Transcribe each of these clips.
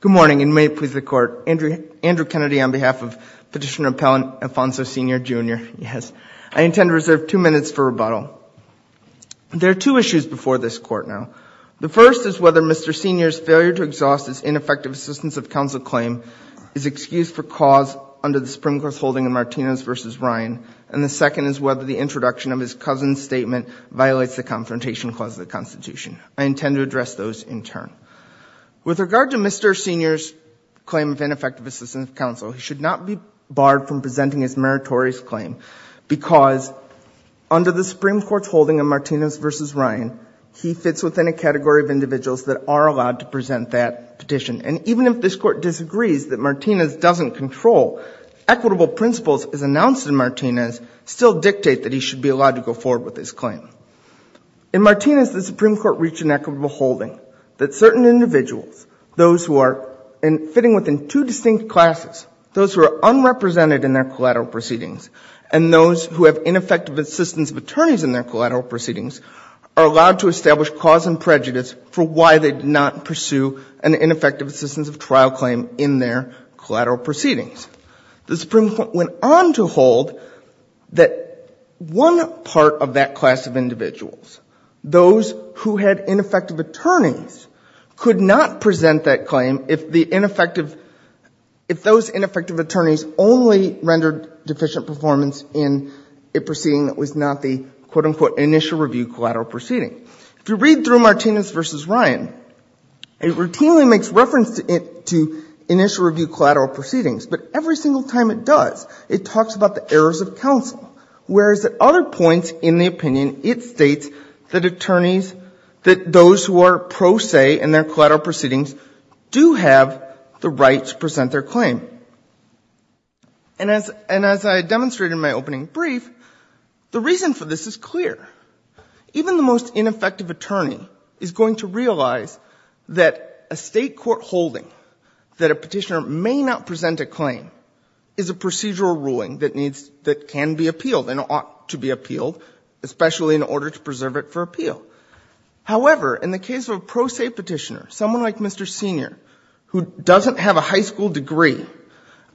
Good morning, and may it please the Court, Andrew Kennedy on behalf of Petitioner Appellant Alfonso Senior, Jr., I intend to reserve two minutes for rebuttal. There are two issues before this Court now. The first is whether Mr. Senior's failure to exhaust his ineffective assistance of counsel claim is excused for cause under the Supreme Court's holding of Martinez v. Ryan, and the second is whether the introduction of his cousin's statement violates the Confrontation I intend to address those in turn. With regard to Mr. Senior's claim of ineffective assistance of counsel, he should not be barred from presenting his meritorious claim because under the Supreme Court's holding of Martinez v. Ryan, he fits within a category of individuals that are allowed to present that petition, and even if this Court disagrees that Martinez doesn't control equitable principles as announced in Martinez, still dictate that he should be allowed to go forward with his claim. In Martinez, the Supreme Court reached an equitable holding that certain individuals, those who are fitting within two distinct classes, those who are unrepresented in their collateral proceedings, and those who have ineffective assistance of attorneys in their collateral proceedings, are allowed to establish cause and prejudice for why they did not pursue an ineffective assistance of trial claim in their collateral proceedings. The Supreme Court went on to hold that one part of that class of individuals, those who had ineffective attorneys, could not present that claim if the ineffective, if those ineffective attorneys only rendered deficient performance in a proceeding that was not the, quote, unquote, initial review collateral proceeding. If you read through Martinez v. Ryan, it routinely makes reference to initial review collateral proceedings, but every single time it does, it talks about the errors of counsel, whereas at other points in the opinion, it states that attorneys, that those who are pro se in their collateral proceedings do have the right to present their claim. And as I demonstrated in my opening brief, the reason for this is clear. Even the most ineffective attorney is going to realize that a State court holding that a Petitioner may not present a claim is a procedural ruling that needs, that can be appealed and ought to be appealed, especially in order to preserve it for appeal. However, in the case of a pro se Petitioner, someone like Mr. Senior, who doesn't have a high school degree,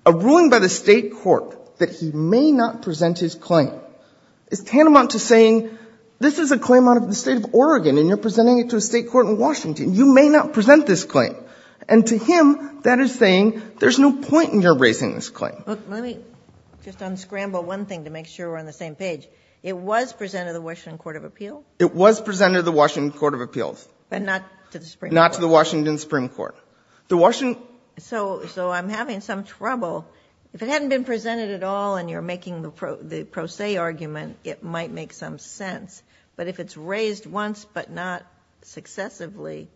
a ruling by the State court that he may not present his claim is tantamount to saying, this is a claim out of the State of Oregon and you're presenting it to a State court in Washington, you may not present this claim. And to him, that is saying, there's no point in your raising this claim. Let me just unscramble one thing to make sure we're on the same page. It was presented to the Washington Court of Appeals? It was presented to the Washington Court of Appeals. But not to the Supreme Court? Not to the Washington Supreme Court. The Washington... So, so I'm having some trouble. If it hadn't been presented at all and you're making the pro se argument, it might make some sense. But if it's raised once but not successively,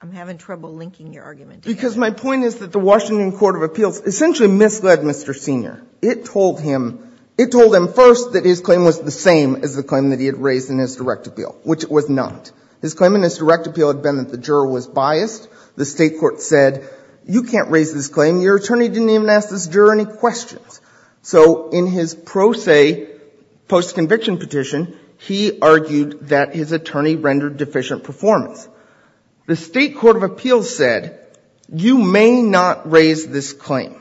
I'm having trouble linking your argument to that. Because my point is that the Washington Court of Appeals essentially misled Mr. Senior. It told him, it told him first that his claim was the same as the claim that he had raised in his direct appeal, which it was not. His claim in his direct appeal had been that the juror was biased. The State court said, you can't raise this claim. Your attorney didn't even ask this juror any questions. So in his pro se post conviction petition, he argued that his attorney rendered deficient performance. The State Court of Appeals said, you may not raise this claim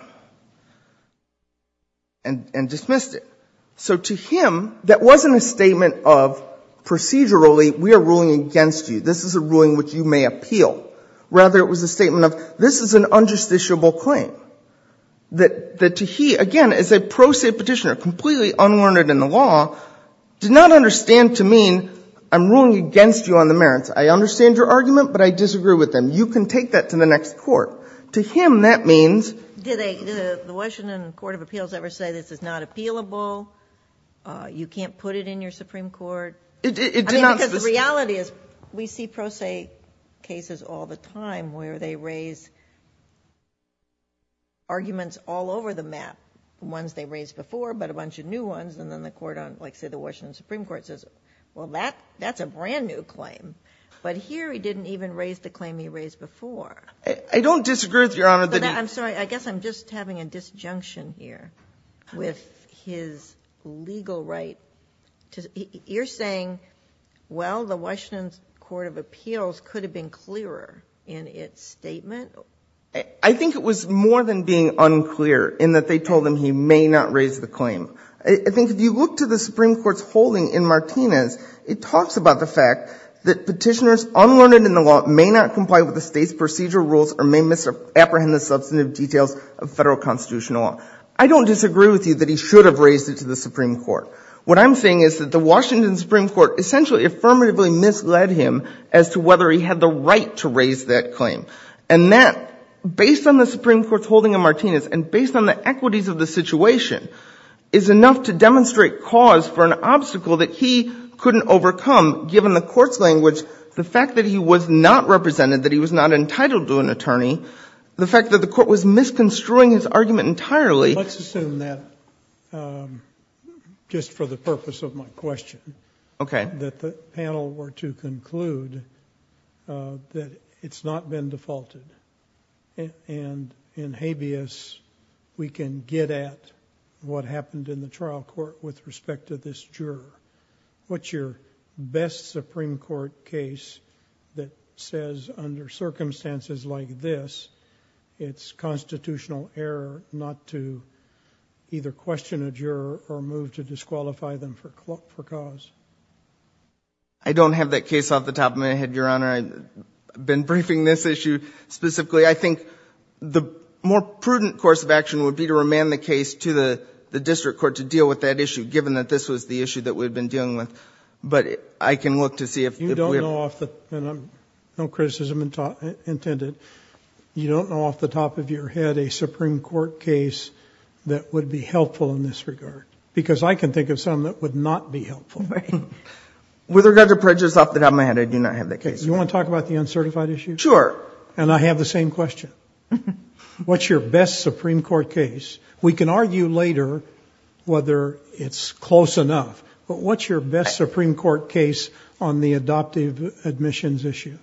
and dismissed it. So to him, that wasn't a statement of procedurally, we are ruling against you. This is a ruling which you may appeal. Rather, it was a statement of, this is an unjusticiable claim. That to he, again, as a pro se petitioner, completely unwarned in the law, did not understand to mean, I'm ruling against you on the merits. I understand your argument, but I disagree with them. You can take that to the next court. To him, that means. Did the Washington Court of Appeals ever say this is not appealable? You can't put it in your Supreme Court? It did not. Because the reality is, we see pro se cases all the time where they raise arguments all over the map, ones they raised before, but a bunch of new ones. And then the court on, like say the Washington Supreme Court says, well that's a brand new claim. But here he didn't even raise the claim he raised before. I don't disagree with your honor that he. I'm sorry, I guess I'm just having a disjunction here. With his legal right to, you're saying, well the Washington's Court of Appeals could have been clearer in its statement? I think it was more than being unclear in that they told him he may not raise the claim. I think if you look to the Supreme Court's holding in Martinez, it talks about the fact that petitioners unlearned in the law may not comply with the state's procedural rules or may misapprehend the substantive details of federal constitutional law. I don't disagree with you that he should have raised it to the Supreme Court. What I'm saying is that the Washington Supreme Court essentially affirmatively misled him as to whether he had the right to raise that claim. And that, based on the Supreme Court's holding in Martinez and based on the equities of the situation, is enough to demonstrate cause for an obstacle that he couldn't overcome, given the court's language, the fact that he was not represented, that he was not entitled to an attorney, the fact that the court was misconstruing his argument entirely. Let's assume that, just for the purpose of my question, that the panel were to conclude that it's not been defaulted and in habeas, we can get at what happened in the trial court with respect to this juror. What's your best Supreme Court case that says, under circumstances like this, it's constitutional error not to either question a juror or move to disqualify them for cause? I don't have that case off the top of my head, Your Honor. I've been briefing this issue specifically. I think the more prudent course of action would be to remand the case to the district court to deal with that issue, given that this was the issue that we've been dealing with. But I can look to see if... You don't know off the... and I'm... no criticism intended. You don't know off the top of your head a Supreme Court case that would be helpful in this regard, because I can think of some that would not be helpful. With regard to prejudice off the top of my head, I do not have that case. You want to talk about the uncertified issue? Sure. And I have the same question. What's your best Supreme Court case? We can argue later whether it's close enough, but what's your best Supreme Court case on the adoptive admissions issue?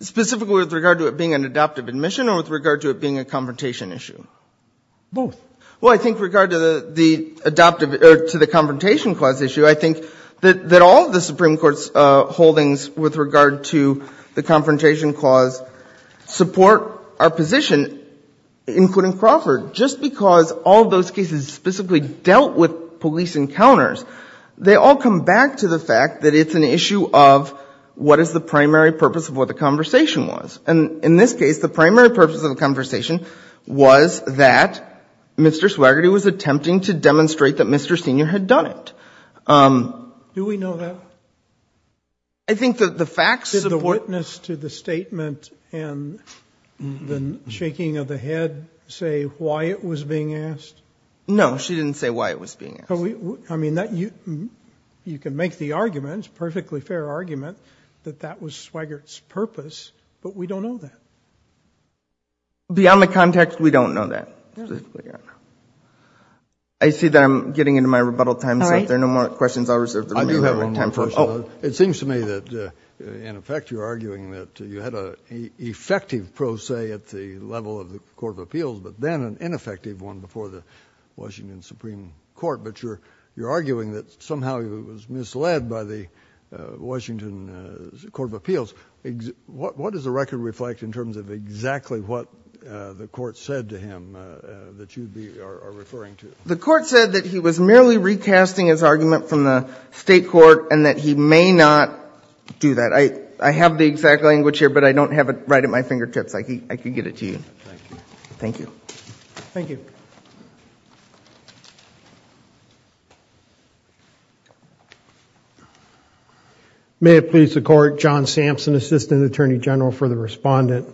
Specifically with regard to it being an adoptive admission or with regard to it being a confrontation issue? Both. Well, I think with regard to the confrontation clause issue, I think that all of the Supreme Court's holdings with regard to the confrontation clause support our position, including Crawford, just because all of those cases specifically dealt with police encounters. They all come back to the fact that it's an issue of what is the primary purpose of what the conversation was. And in this case, the primary purpose of the conversation was that Mr. Swigert was attempting to demonstrate that Mr. Senior had done it. Do we know that? I think that the facts support... Did the witness to the statement and the shaking of the head say why it was being asked? No, she didn't say why it was being asked. You can make the argument, perfectly fair argument, that that was Swigert's purpose, but we don't know that. Beyond the context, we don't know that. I see that I'm getting into my rebuttal time, so if there are no more questions, I'll reserve the remaining time for... I do have one more question. Oh. It seems to me that, in effect, you're arguing that you had an effective pro se at the level of the Court of Appeals, but then an ineffective one before the Washington Supreme Court. But you're arguing that somehow it was misled by the Washington Court of Appeals. What does the record reflect in terms of exactly what the Court said to him that you are referring to? The Court said that he was merely recasting his argument from the State court and that he may not do that. I have the exact language here, but I don't have it right at my fingertips. I could get it to you. Thank you. Thank you. Thank you. May it please the Court, John Sampson, Assistant Attorney General for the Respondent.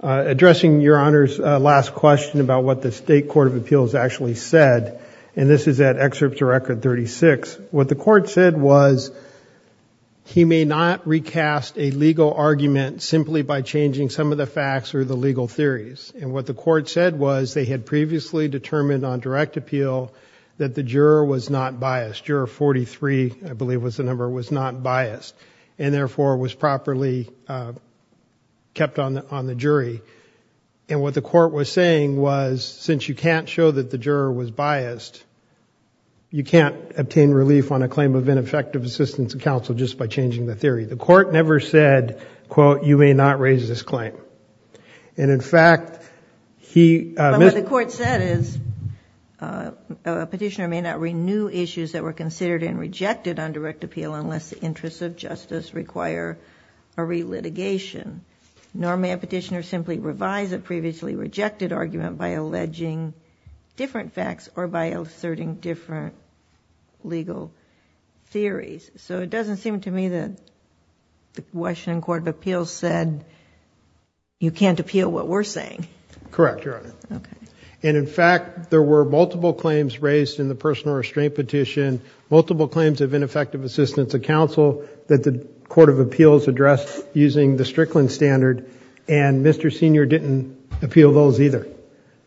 Addressing Your Honor's last question about what the State Court of Appeals actually said, and this is at excerpts of Record 36, what the Court said was he may not recast a legal argument simply by changing some of the facts or the legal theories. And what the Court said was they had previously determined on direct appeal that the juror was not biased. Juror 43, I believe was the number, was not biased and therefore was properly kept on the jury. And what the Court was saying was since you can't show that the juror was biased, you can't obtain relief on a claim of ineffective assistance of counsel just by changing the theory. The Court never said, quote, you may not raise this claim. And in fact, he... But what the Court said is a petitioner may not renew issues that were considered and rejected on direct appeal unless the interests of justice require a re-litigation. Nor may a petitioner simply revise a previously rejected argument by alleging different facts or by asserting different legal theories. So it doesn't seem to me that the Washington Court of Appeals said you can't appeal what we're saying. Correct, Your Honor. Okay. And in fact, there were multiple claims raised in the personal restraint petition, multiple claims of ineffective assistance of counsel that the Court of Appeals addressed using the Strickland standard and Mr. Senior didn't appeal those either.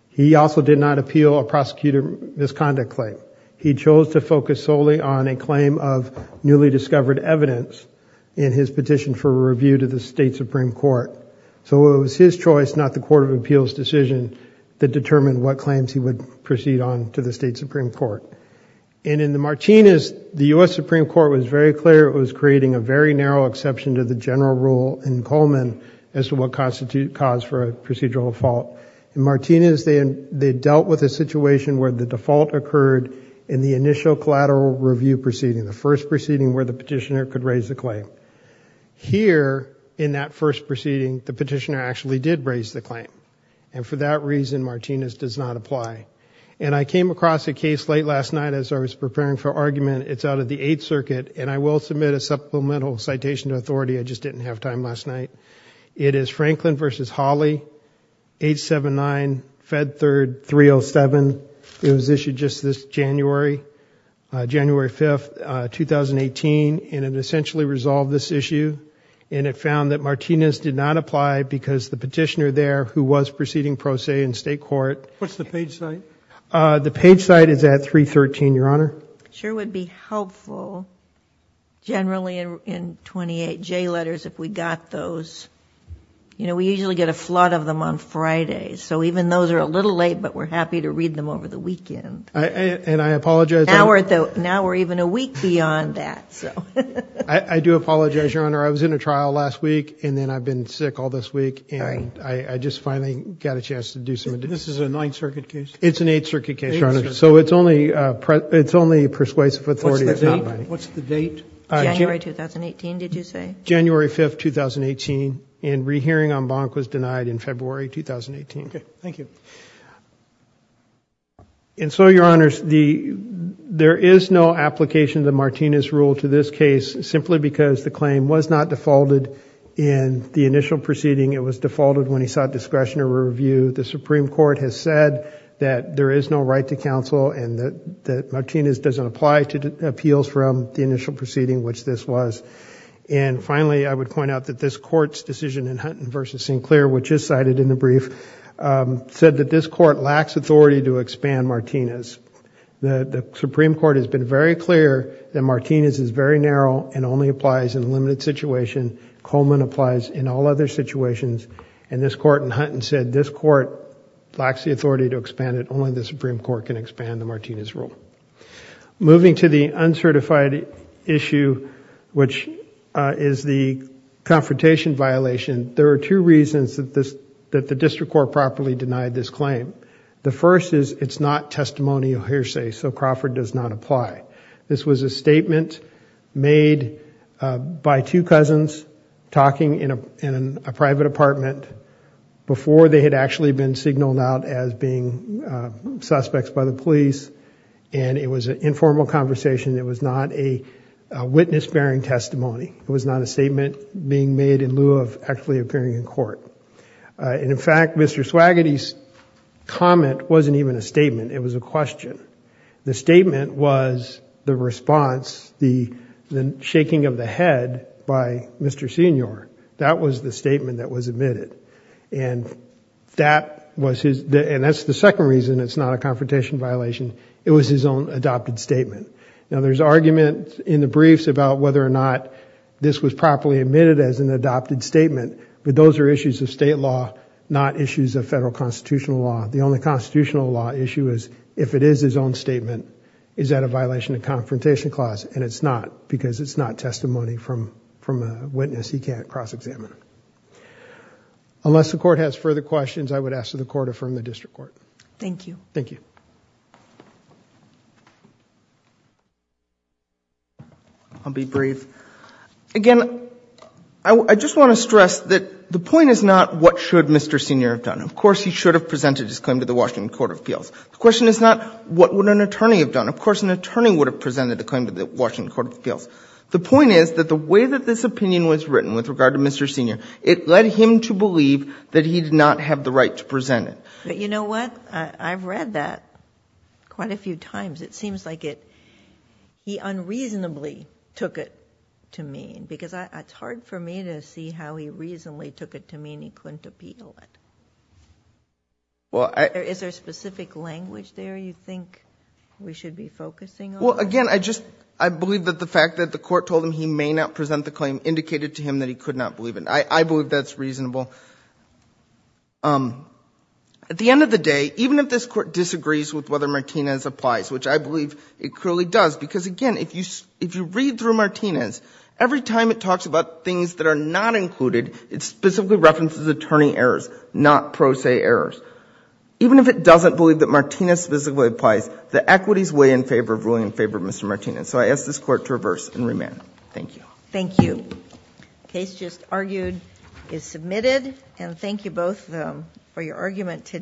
He also did not appeal a prosecutor misconduct claim. He chose to focus solely on a claim of newly discovered evidence in his petition for review to the State Supreme Court. So it was his choice, not the Court of Appeals' decision, that determined what claims he would proceed on to the State Supreme Court. And in the Martinez, the U.S. Supreme Court was very clear it was creating a very narrow exception to the general rule in Coleman as to what constitutes cause for a procedural fault. In Martinez, they dealt with a situation where the default occurred in the initial collateral review proceeding, the first proceeding where the petitioner could raise a claim. Here in that first proceeding, the petitioner actually did raise the claim. And for that reason, Martinez does not apply. And I came across a case late last night as I was preparing for argument. It's out of the Eighth Circuit and I will submit a supplemental citation to authority. I just didn't have time last night. It is Franklin v. Hawley, 879 Fed Third 307. It was issued just this January, January 5th, 2018, and it essentially resolved this issue. And it found that Martinez did not apply because the petitioner there who was proceeding pro se in state court... What's the page site? The page site is at 313, Your Honor. Sure would be helpful generally in 28J letters if we got those. You know, we usually get a flood of them on Fridays. So even those are a little late, but we're happy to read them over the weekend. And I apologize... Now we're even a week beyond that. I do apologize, Your Honor. I was in a trial last week and then I've been sick all this week and I just finally got a chance to do some... This is a Ninth Circuit case? It's an Eighth Circuit case, Your Honor. So it's only persuasive authority. What's the date? January 2018, did you say? January 5th, 2018, and rehearing en banc was denied in February 2018. Thank you. And so, Your Honors, there is no application of the Martinez rule to this case simply because the claim was not defaulted in the initial proceeding. It was defaulted when he sought discretionary review. The Supreme Court has said that there is no right to counsel and that Martinez doesn't apply to appeals from the initial proceeding, which this was. And finally, I would point out that this Court's decision in Hunton v. Sinclair, which is cited in the brief, said that this Court lacks authority to expand Martinez. The Supreme Court has been very clear that Martinez is very narrow and only applies in a limited situation. Coleman applies in all other situations. And this Court in Hunton said this Court lacks the authority to expand it. Only the Supreme Court can expand the Martinez rule. Moving to the uncertified issue, which is the confrontation violation, there are two reasons that the district court properly denied this claim. The first is it's not testimonial hearsay, so Crawford does not apply. This was a statement made by two cousins talking in a private apartment before they had actually been signaled out as being suspects by the police. And it was an informal conversation. It was not a witness-bearing testimony. It was not a statement being made in lieu of actually appearing in court. And in fact, Mr. Swaggety's comment wasn't even a statement, it was a question. The statement was the response, the shaking of the head by Mr. Senior. That was the statement that was admitted. And that was his, and that's the second reason it's not a confrontation violation. It was his own adopted statement. Now there's argument in the briefs about whether or not this was properly admitted as an adopted statement, but those are issues of state law, not issues of federal constitutional law. The only constitutional law issue is if it is his own statement, is that a violation of confrontation clause, and it's not because it's not testimony from a witness he can't cross-examine. Unless the court has further questions, I would ask that the court affirm the district court. Thank you. Thank you. I'll be brief. Again, I just want to stress that the point is not what should Mr. Senior have done. Of course, he should have presented his claim to the Washington Court of Appeals. The question is not what would an attorney have done. Of course, an attorney would have presented the claim to the Washington Court of Appeals. The point is that the way that this opinion was written with regard to Mr. Senior, it led him to believe that he did not have the right to present it. You know what? I've read that quite a few times. It seems like it, he unreasonably took it to mean, because it's hard for me to see how he reasonably took it to mean he couldn't appeal it. Is there specific language there you think we should be focusing on? Well, again, I just, I believe that the fact that the court told him he may not present the claim indicated to him that he could not believe it. I believe that's reasonable. At the end of the day, even if this court disagrees with whether Martinez applies, which I believe it clearly does, because again, if you read through Martinez, every time it is read, it specifically references attorney errors, not pro se errors. Even if it doesn't believe that Martinez specifically applies, the equities weigh in favor of ruling in favor of Mr. Martinez. So I ask this Court to reverse and remand. Thank you. Thank you. The case just argued is submitted. And thank you both for your argument today.